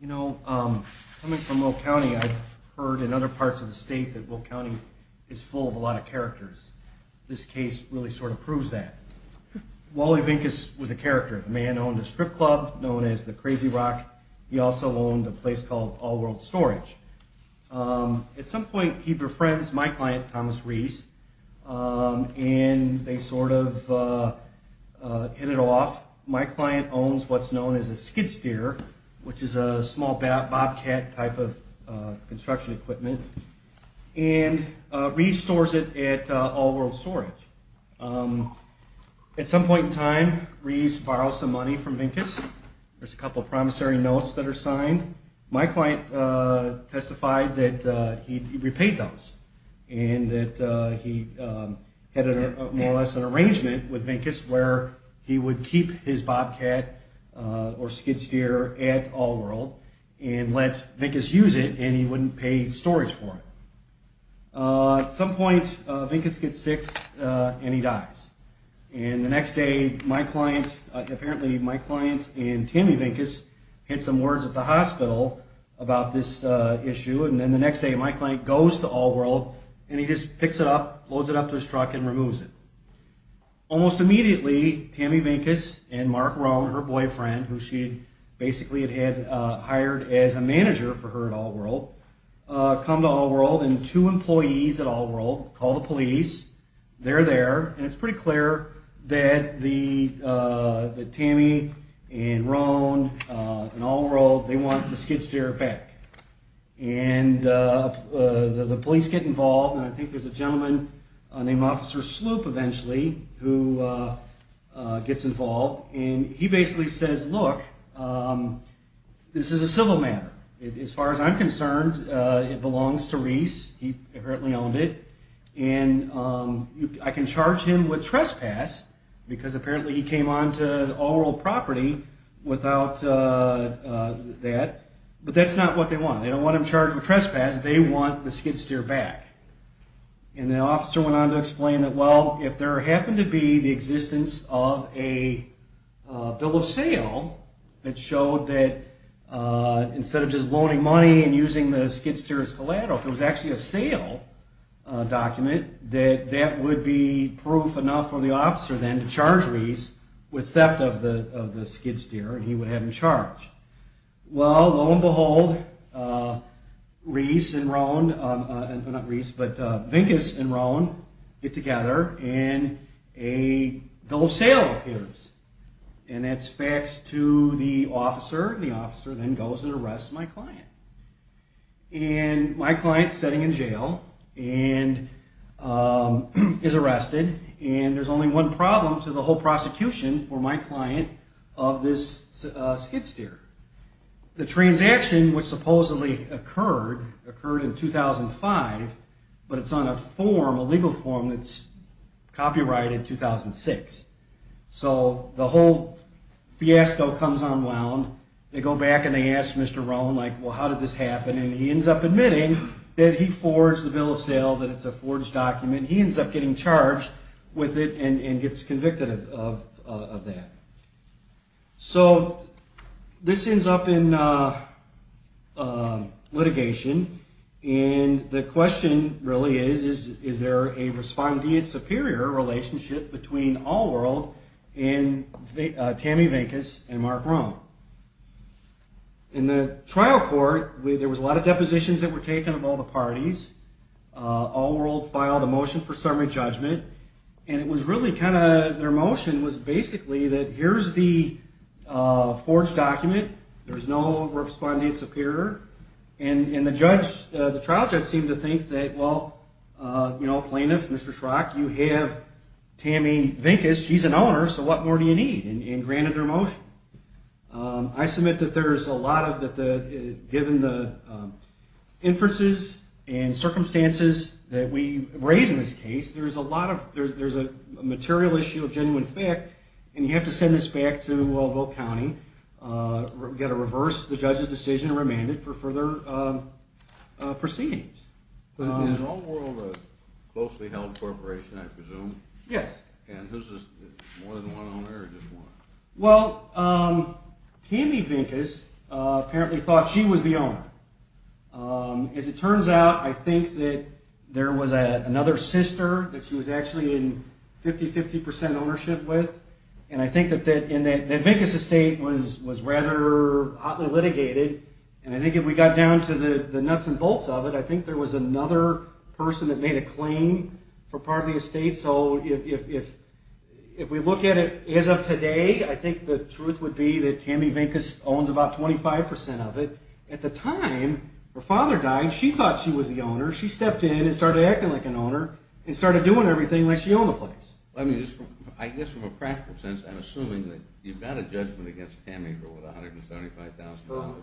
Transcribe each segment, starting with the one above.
You know, coming from Will County, I've heard in other parts of the state that it's full of a lot of characters. This case really sort of proves that. Wally Vincus was a character. The man owned a strip club known as the Crazy Rock. He also owned a place called All World Storage. At some point, he befriends my client, Thomas Reese, and they sort of hit it off. My client owns what's known as a skid steer, which is a small bobcat type of construction equipment, and Reese stores it at All World Storage. At some point in time, Reese borrows some money from Vincus. There's a couple of promissory notes that are signed. My client testified that he repaid those and that he had more or less an arrangement with Vincus where he would keep his bobcat or skid steer at All World and let Vincus use it and he wouldn't pay storage for it. At some point, Vincus gets sick and he dies. And the next day, my client, apparently my client and Tammy Vincus, had some words at the hospital about this issue. And then the next day, my client goes to All World and he just picks it up, loads it up to his truck, and removes it. Almost immediately, Tammy Vincus and Mark Rohn, her boyfriend, who she basically had hired as a manager for her at All World, come to All World and two employees at All World call the police. They're there, and it's pretty clear that Tammy and Rohn and All World, they want the eventually, who gets involved. And he basically says, look, this is a civil matter. As far as I'm concerned, it belongs to Reese. He apparently owned it. And I can charge him with trespass because apparently he came on to All World property without that. But that's not what they want. They don't want him charged with trespass. They want the skid steer back. And the officer went on to well, if there happened to be the existence of a bill of sale that showed that instead of just loaning money and using the skid steer as collateral, if it was actually a sale document, that would be proof enough for the officer then to charge Reese with theft of the skid steer and he a bill of sale appears. And that's faxed to the officer. The officer then goes and arrests my client. And my client's sitting in jail and is arrested. And there's only one problem to the whole prosecution for my client of this skid steer. The transaction, which supposedly occurred, in 2005, but it's on a form, a legal form that's copyrighted 2006. So the whole fiasco comes unwound. They go back and they ask Mr. Rohn, like, well, how did this happen? And he ends up admitting that he forged the bill of sale, that it's a forged document. He ends up getting charged with it and gets convicted of that. So this ends up in litigation. And the question really is, is there a respondeat superior relationship between All World and Tammy Vincus and Mark Rohn? In the trial court, there was a lot of depositions that were taken of all parties. All World filed a motion for summary judgment. And it was really kind of, their motion was basically that here's the forged document. There's no respondeat superior. And the judge, the trial judge seemed to think that, well, you know, plaintiff, Mr. Schrock, you have Tammy Vincus, she's an owner. So what more do you need? And granted their motion. I submit that there's a lot of, that given the inferences and circumstances that we raise in this case, there's a lot of, there's a material issue of genuine thick. And you have to send this back to Waldo County. We've got to reverse the judge's decision and remand it for further proceedings. Is All World a closely held apparently thought she was the owner. As it turns out, I think that there was another sister that she was actually in 50, 50% ownership with. And I think that Vincus' estate was rather hotly litigated. And I think if we got down to the nuts and bolts of it, I think there was another person that made a claim for part of the estate. So if we look at it as of today, I think the truth would be that Tammy Vincus owns about 25% of it. At the time, her father died. She thought she was the owner. She stepped in and started acting like an owner and started doing everything like she owned the place. I mean, I guess from a practical sense, I'm assuming that you've got a judgment against Tammy for what, $175,000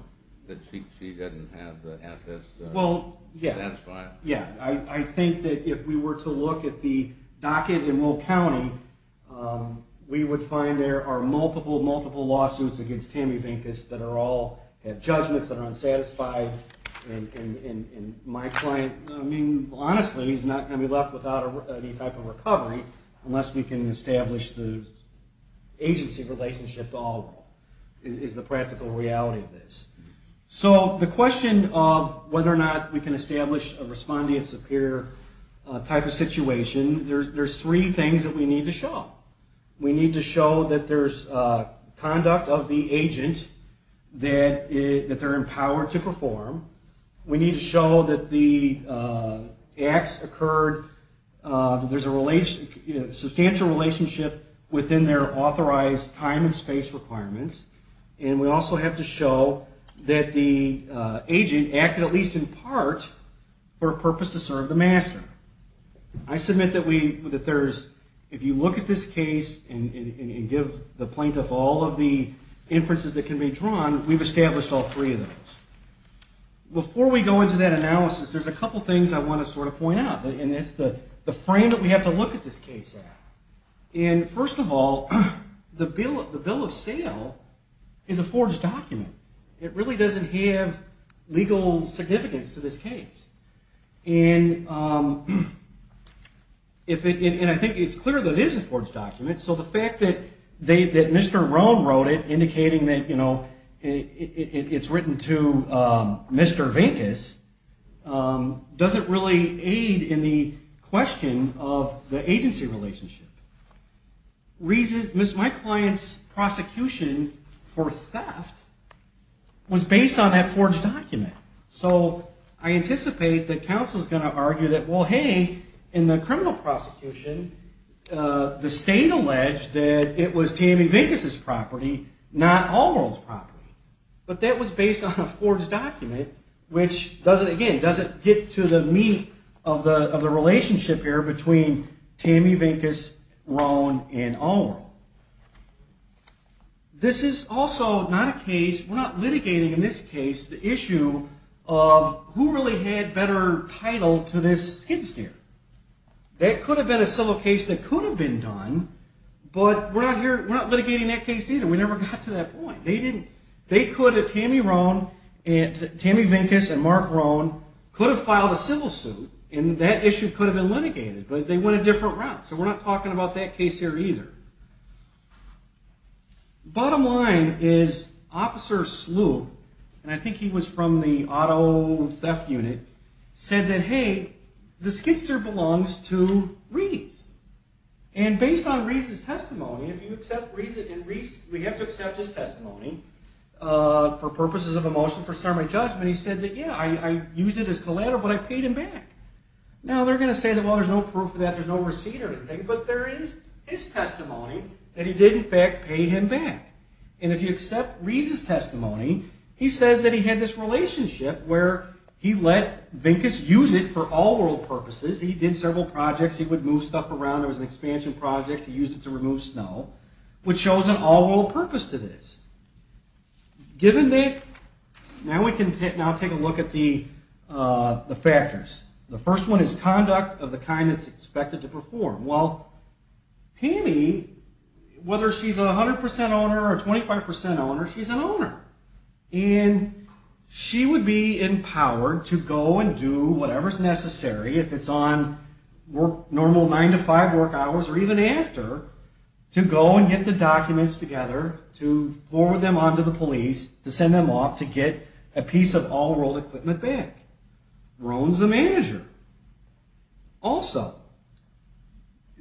that she doesn't have the assets to satisfy it. Yeah. I think that if we were to look at the docket in Will County, we would find there are multiple, multiple lawsuits against Tammy Vincus that are all have judgments that are unsatisfied. And my client, I mean, honestly, he's not going to be left without any type of recovery unless we can establish the agency relationship to all of them, is the practical reality of this. So the question of whether or not we can establish a respondent superior type of situation, there's three things that we need to show. We need to show that there's conduct of the agent, that they're empowered to perform. We need to show that the acts occurred, that there's a substantial relationship within their authorized time and space requirements. And we also have to show that the agent acted at the client's heart for a purpose to serve the master. I submit that if you look at this case and give the plaintiff all of the inferences that can be drawn, we've established all three of those. Before we go into that analysis, there's a couple things I want to sort of point out, and it's the frame that we have to look at this case at. And first of all, the bill of sale is a forged document. It really doesn't have legal significance to this case. And I think it's clear that it is a forged document, so the fact that Mr. Roan wrote it, indicating that it's written to Mr. Vincus, doesn't really aid in the question of the agency So I anticipate that counsel is going to argue that, well, hey, in the criminal prosecution, the state alleged that it was Tammy Vincus's property, not Allworld's property. But that was based on a forged document, which doesn't, again, doesn't get to the meat of the relationship here between Tammy Vincus, Roan, and Allworld. This is also not a case, we're not litigating in this case, the issue of who really had better title to this skid steer. That could have been a civil case that could have been done, but we're not here, we're not litigating that case either. We never got to that point. They didn't, they could have, Tammy Roan, Tammy Vincus, and Mark Roan, could have filed a civil suit, and that issue could have been litigated, but they went a different route. So we're not talking about that case here either. Bottom line is, Officer Slew, and I think he was from the auto theft unit, said that, hey, the skid steer belongs to Reece. And based on Reece's testimony, if you accept Reece's, and Reece, we have to accept his testimony, for purposes of a motion for summary judgment, he said that, yeah, I used it as collateral, but I paid him back. Now they're going to say that, well, there's no proof of that, there's no receipt or anything, but there is his testimony that he did in fact pay him back. And if you accept Reece's testimony, he says that he had this relationship where he let Vincus use it for all world purposes, he did several projects, he would move stuff around, there was an expansion project, he used it to remove snow, which shows an all world purpose to this. Given that, now we have two factors. The first one is conduct of the kind that's expected to perform. Well, Tammy, whether she's a 100% owner or a 25% owner, she's an owner. And she would be empowered to go and do whatever's necessary, if it's on normal 9 to 5 work hours, or even after, to go and get the documents together, to forward them on to the police, to send them off to get a piece of all that, she owns the manager. Also,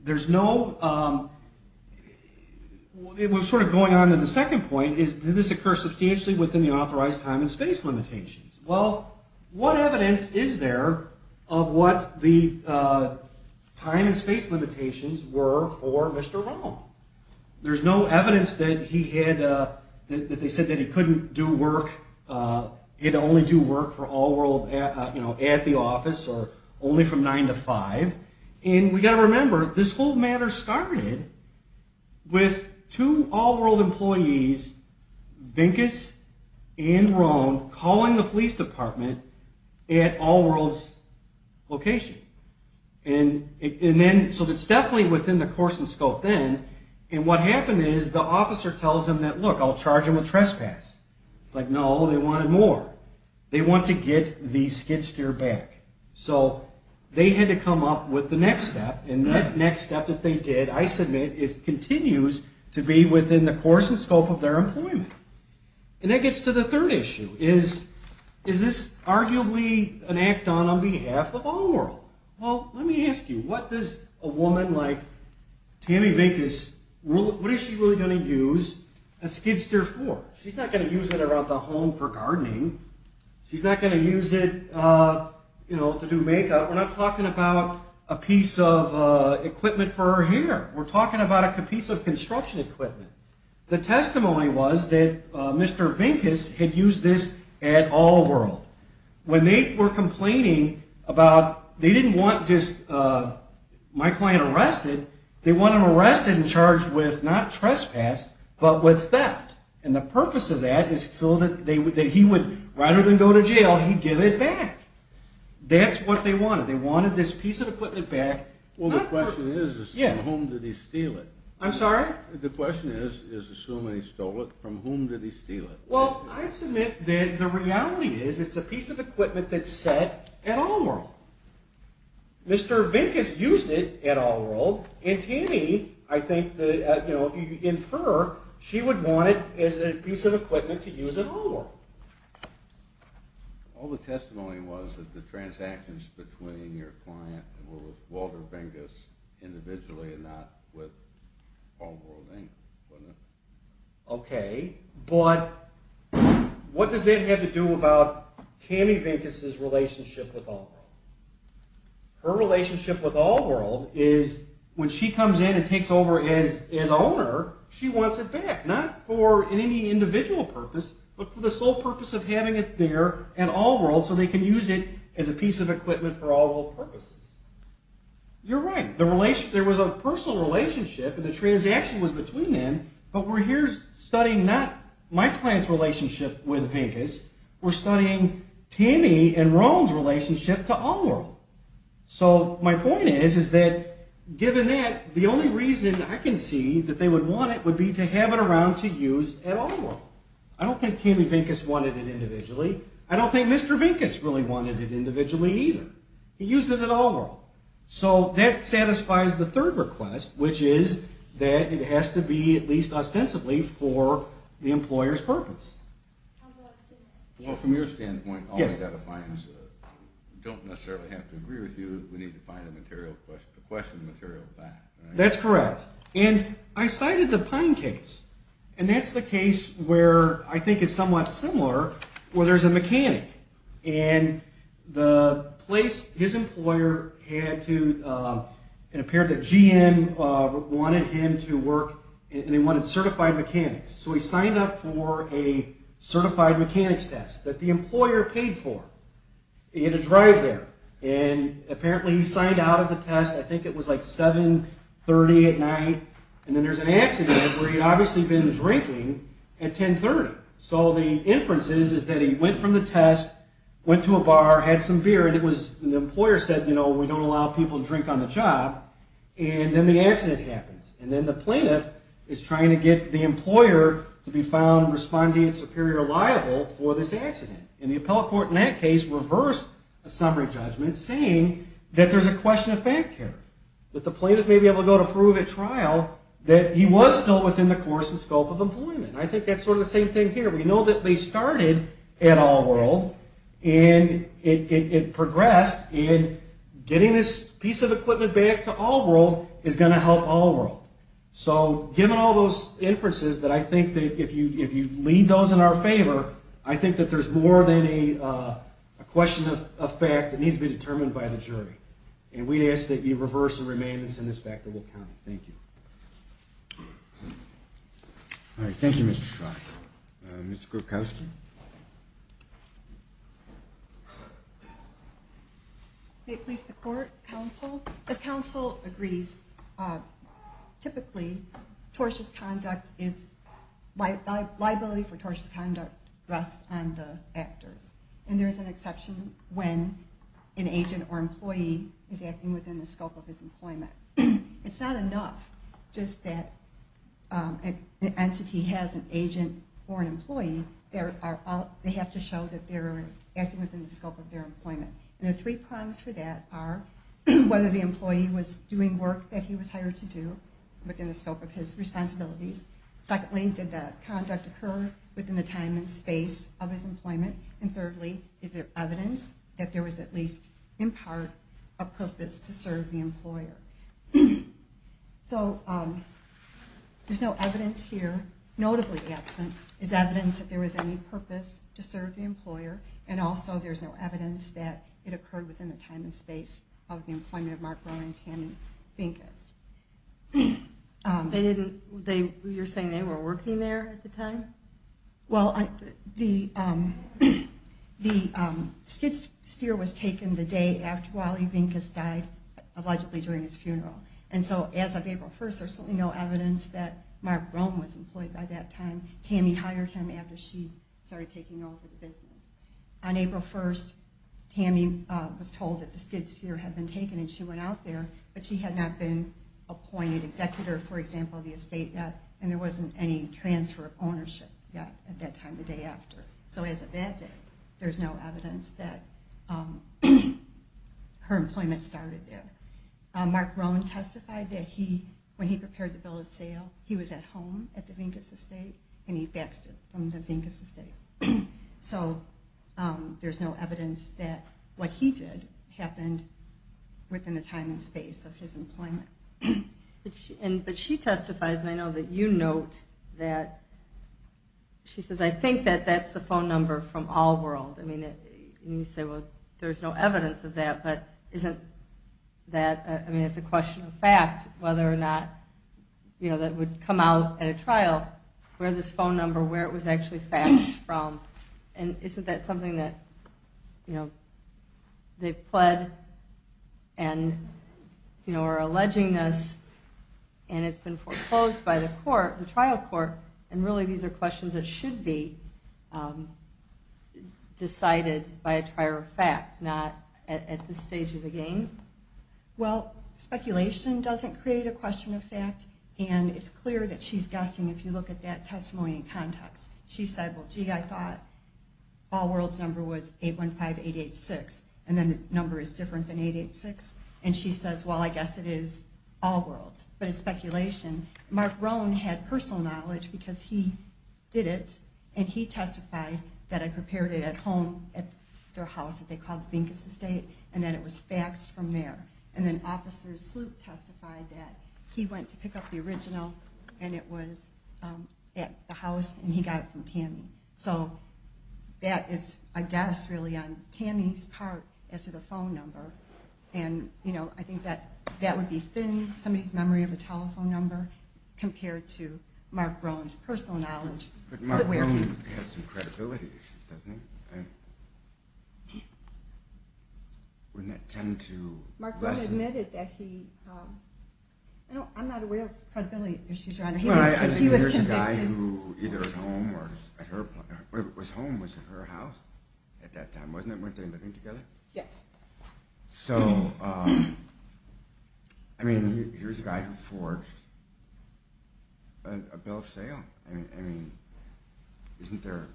there's no, it was sort of going on to the second point, did this occur substantially within the authorized time and space limitations? Well, what evidence is there of what the time and space limitations were for Mr. Rohn? There's no evidence that he had, that they said that he couldn't do work, he had to only do work for all world, you know, at the office, or only from 9 to 5. And we got to remember, this whole matter started with two all world employees, Vincus and Rohn, calling the police And what happened is, the officer tells them that, look, I'll charge them with trespass. It's like, no, they wanted more. They want to get the skid steer back. So they had to come up with the next step. And that next step that they did, I submit, is continues to be within the course and scope of their employment. And that gets to the third issue is, is this arguably an act done on behalf of all world? Well, let me ask you, what does a woman like Tammy Vincus, what is she really going to use a skid steer for? She's not going to use it around the home for gardening. She's not going to use it, you know, to do makeup. We're not talking about a piece of equipment for her hair. We're talking about a piece of construction equipment. The testimony was that Mr. Vincus had used this at all world. When they were complaining about, they didn't want just my client arrested. They want him arrested and charged with not trespass, but with theft. And the purpose of that is so that they would, that he would rather than go to jail, he'd give it back. That's what they wanted. They wanted this piece of equipment back. Well, the question is, is from whom did he steal it? I'm sorry? The question is, is assuming he stole it, from whom did he steal it? Well, I submit that the reality is, it's a piece of equipment that's set at all world. Mr. Vincus used it at all world. And Tammy, I think, you know, if you infer, she would want it as a piece of equipment to use at all world. All the testimony was that the transactions between your client and Walter Vincus individually and not with All World, Inc. Okay, but what does that have to do about Tammy Vincus's relationship with All World? Her relationship with All World is when she comes in and takes over as owner, she wants it back. Not for any individual purpose, but for the piece of equipment for all world purposes. You're right. There was a personal relationship and the transaction was between them, but we're here studying not my client's relationship with Vincus. We're studying Tammy and Roan's relationship to All World. So my point is, is that given that, the only reason I can see that they would want it would be to have it around to use at All World. I don't think Tammy Vincus wanted it individually either. He used it at All World. So that satisfies the third request, which is that it has to be at least ostensibly for the employer's purpose. Well, from your standpoint, all the statements don't necessarily have to agree with you. We need to find the material, question the material back. That's correct. And I cited the Pine case. And that's the case where I think is somewhat similar, where there's a mechanic and the place his employer had to, it appeared that GM wanted him to work and they wanted certified mechanics. So he signed up for a certified mechanics test that the at night. And then there's an accident where he'd obviously been drinking at 1030. So the inferences is that he went from the test, went to a bar, had some beer, and it was the employer said, you know, we don't allow people to drink on the job. And then the accident happens. And then the plaintiff is trying to get the employer to be found responding superior liable for this accident. And the appellate court in that case reversed a summary judgment saying that there's a question of fact here, that the plaintiff may be able to go to prove at trial that he was still within the course and scope of employment. I think that's sort of the same thing here. We know that they started at All World and it progressed in getting this piece of equipment back to All World is going to help All World. So given all those inferences that I think that if you if you lead those in our favor, I think that there's more than a question of fact that needs to be determined by the jury. And we ask that you reverse the remainders in this fact that will count. Thank you. All right. Thank you, Mr. Scott. Mr. Kostin. May it please the court, counsel. As counsel agrees, typically liability for tortious conduct rests on the actors. And there's an exception when an agent or an employee, they have to show that they're acting within the scope of their employment. And the three prongs for that are whether the employee was doing work that he was hired to do within the scope of his responsibilities. Secondly, did that conduct occur within the time and space of his employment? And thirdly, is there evidence that there was any purpose to serve the employer? And also, there's no evidence that it occurred within the time and space of the employment of Mark Rohn and Tammy Vinkes. You're saying they were working there at the time? Well, the skid steer was taken the day after Wally Vinkes died, allegedly during his funeral. And so as of April 1st, there's no evidence that Mark Rohn was employed by that time. Tammy hired him after she started taking over the business. On April 1st, Tammy was told that the skid steer had been taken and she went out there, but she had not been appointed executor, for example, of the estate yet, and there wasn't any transfer of ownership yet at that time the day after. So as of that day, there's no evidence that her employment started there. Mark Rohn testified that when he prepared the bill of sale, he was at home at the Vinkes estate, and he faxed it from the Vinkes estate. So there's no evidence that what he did happened within the time and space of his employment. But she testifies, and I know that you note that, she says, I think that that's the phone number from All World. And you say, well, there's no evidence of that, but isn't that, I mean, it's a question of fact whether or not, you know, that would come out at a trial, where this phone number, where it was actually faxed from, and isn't that something that, you know, they've been alleging this, and it's been foreclosed by the court, the trial court, and really these are questions that should be decided by a trier of fact, not at this stage of the game? Well, speculation doesn't create a question of fact, and it's clear that she's guessing if you look at that testimony in context. She said, well, gee, I thought All World's number was All World's, but it's speculation. Mark Rohn had personal knowledge because he did it, and he testified that I prepared it at home, at their house that they called the Vinkes estate, and that it was faxed from there. And then Officer Sloop testified that he went to pick up the original, and it was at the house, and he got it from Tammy. So that is, I guess, really on Tammy's part as to the phone number, and, you know, I think that that would be thin, somebody's memory of a telephone number, compared to Mark Rohn's personal knowledge. But Mark Rohn has some credibility issues, doesn't he? Wouldn't that tend to lessen... Mark Rohn admitted that he, I'm not aware of credibility issues around him, but he was convicted. The guy who was home was at her house at that time, wasn't it, weren't they living together? Yes. So, I mean, here's a guy who forged a bill of sale. I mean, isn't there,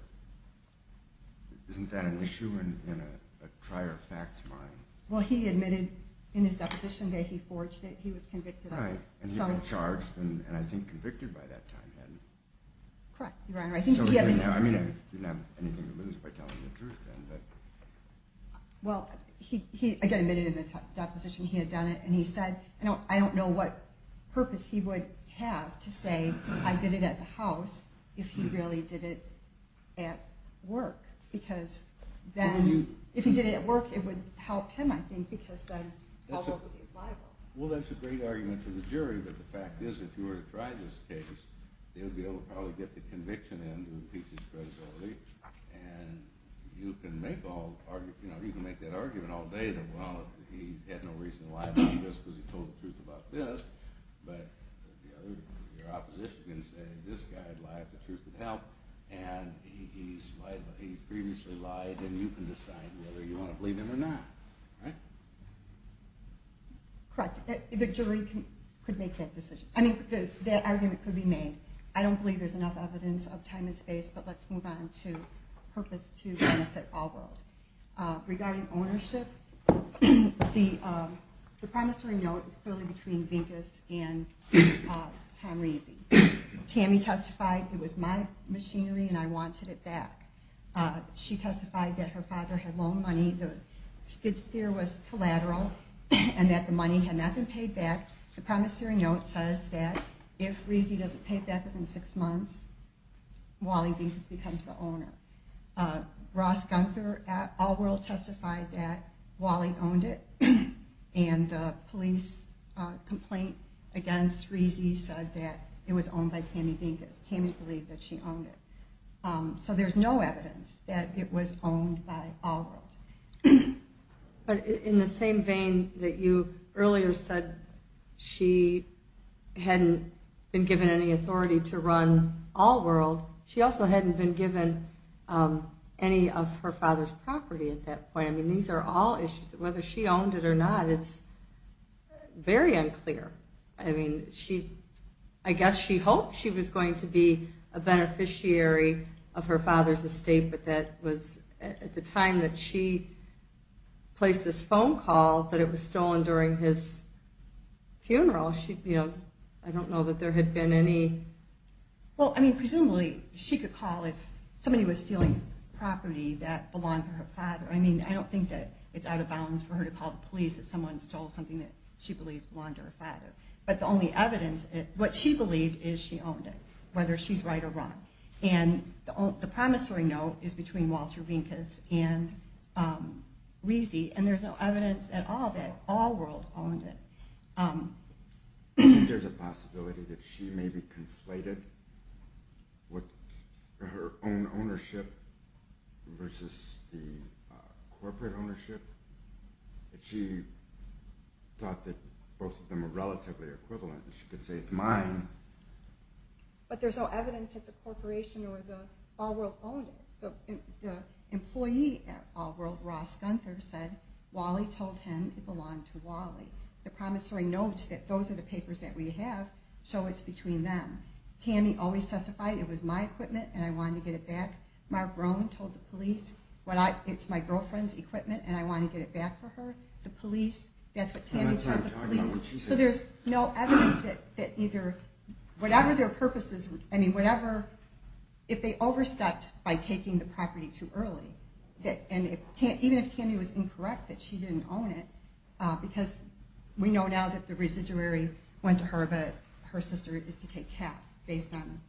isn't that an issue in a trier-of-facts mind? Well, he admitted in his deposition that he forged it. He was convicted of some... Well, he was charged, and I think convicted by that time, hadn't he? Correct, Your Honor, I think he... I mean, I didn't have anything to lose by telling the truth, then, but... Well, he, again, admitted in the deposition he had done it, and he said, I don't know what purpose he would have to say, I did it at the house, if he really did it at work. Because then, if he did it at work, it would help him, I think, because then I'll be able to buy one. Well, that's a great argument to the jury, but the fact is, if you were to try this case, you'd be able to probably get the conviction in, which would increase his credibility, and you can make that argument all day that, well, he had no reason to lie about this because he told the truth about this, but your opposition can say, this guy lied, the truth would help, and he previously lied, and you can decide whether you want to believe him or not, right? Correct. The jury could make that decision. I mean, that argument could be made. I don't believe there's enough evidence of time and space, but let's move on to purpose to benefit all world. Regarding ownership, the promissory note is clearly between Vincus and Tom Rizzi. Tammy testified, it was my machinery and I wanted it back. She testified that her father had loaned money, the skid steer was collateral, and that the money had not been paid back. The promissory note says that if Rizzi doesn't pay it back within six months, Wally Vincus becomes the owner. Ross Gunther at All World testified that Wally owned it, and the police complaint against Rizzi said that it was owned by Tammy Vincus. Tammy believed that she owned it. So there's no evidence that it was owned by All World. But in the same vein that you earlier said she hadn't been given any authority to run All World, she also hadn't been given any of her father's property at that point. I mean, these are all issues. Whether she owned it or not is very unclear. I mean, I guess she hoped she was going to be a beneficiary of her father's estate, but at the time that she placed this phone call that it was stolen during his funeral, I don't know that there had been any... Well, I mean, presumably she could call if somebody was stealing property that belonged to her father. I mean, I don't think that it's out of bounds for her to call the police if someone stole something that she believes belonged to her father. But the only evidence, what she believed is she owned it, whether she's right or wrong. And the promissory note is between Walter Vincus and Rizzi, and there's no evidence at all that All World owned it. I think there's a possibility that she maybe conflated her own ownership versus the corporate ownership. She thought that both of them were relatively equivalent, and she could say it's mine. But there's no evidence that the corporation or the employee at All World, Ross Gunther, said Wally told him it belonged to Wally. The promissory note that those are the papers that we have, so it's between them. Tammy always testified it was my equipment and I wanted to get it back. Mark Rohn told the police it's my girlfriend's equipment and I wanted to get it back for her. That's what Tammy told the police. So there's no evidence that whatever their purposes, if they overstepped by taking the property too early, and even if Tammy was incorrect that she didn't own it, because we know now that the residuary went to her, but her sister is to take cap based on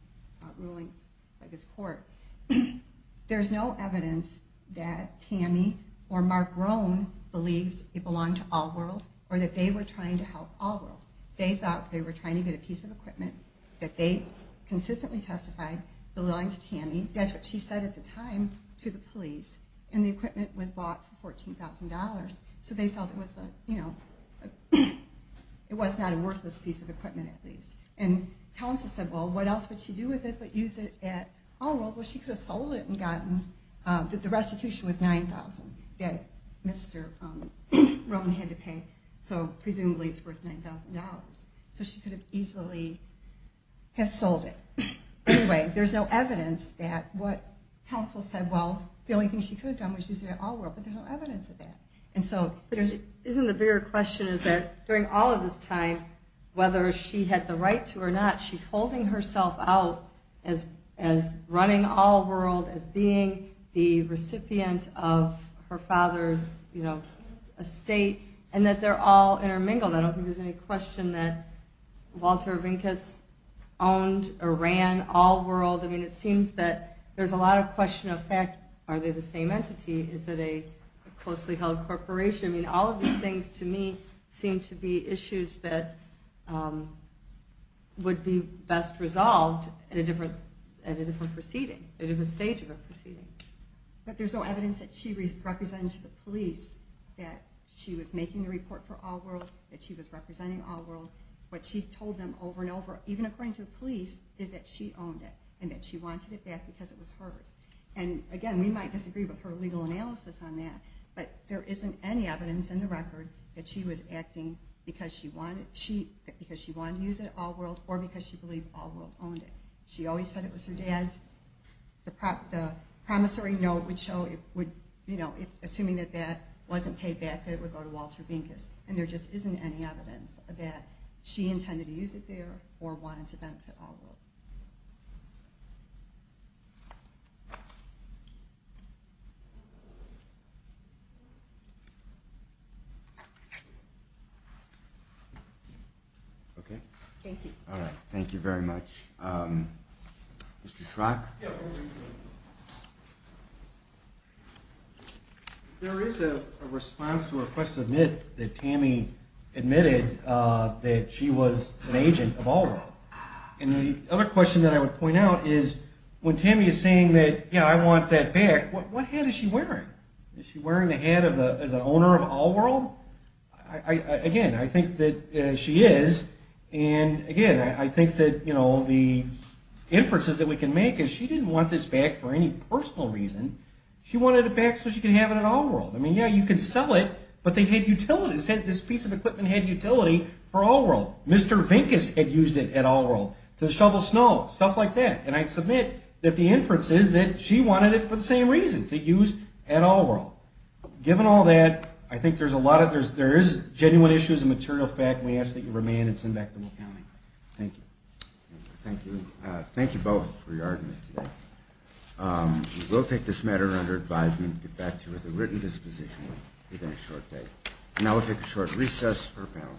rulings by this court. There's no evidence that Tammy or Mark Rohn believed it belonged to All World or that they were trying to help All World. They thought they were trying to get a piece of equipment that they consistently testified belonged to Tammy. That's what she said at the time to the police. And the equipment was bought for $14,000, so they felt it was not a worthless piece of equipment at least. And counsel said, well, what else would she do with it but use it at All World? Well, she could have sold it and gotten that the restitution was $9,000 that Mr. Rohn had to pay, so presumably it's worth $9,000. So she could have easily have sold it. Anyway, there's no evidence that what counsel said, well, the only thing she could have done was use it at All World, but there's no evidence of that. And so isn't the bigger question is that during all of this time, whether she had the right to or not, she's holding herself out as running All World, as being the recipient of her father's estate, and that they're all intermingled. I don't think there's any question that Walter Rinkes owned or ran All World. I mean, it seems that there's a lot of question of fact. Are they the same entity? Is it a closely held corporation? I mean, all of these things to me seem to be issues that would be best resolved at a different stage of a proceeding. But there's no evidence that she represented the police, that she was making the report for All World, that she was representing All World. What she told them over and over, even according to the police, is that she owned it and that she wanted it back because it was hers. And again, we might disagree with her legal analysis on that, but there isn't any evidence in the record that she was acting because she wanted to use it at All World or because she believed All World owned it. She always said it was her dad's. The promissory note would show, assuming that that wasn't paid back, that it would go to Walter Rinkes. And there just isn't any evidence that she intended to use it there or wanted to benefit All World. Okay? Thank you. Thank you very much. Mr. Schrock? There is a response to a question that Tammy admitted that she was an agent of All World. And the other question that I would point out is when Tammy is saying that, yeah, I want that back, what hat is she wearing? Is she wearing the hat as an owner of All World? Again, I think that she is. And again, I think that the inferences that we can make is she didn't want this back for any personal reason. She wanted it back so she could have it at All World. I mean, yeah, you could sell it, but they had utilities. This piece of equipment had utility for All World. Mr. Rinkes had used it at All World to shovel snow, stuff like that. And I submit that the inference is that she wanted it for the same reason, to use at All World. Given all that, I think there's a lot of, there is genuine issues and material fact, and we ask that you remain and send back to McCowney. Thank you. Thank you. Thank you both for your argument today. We will take this matter under advisement and get back to you with a written disposition within a short date. And now we'll take a short recess for a panel.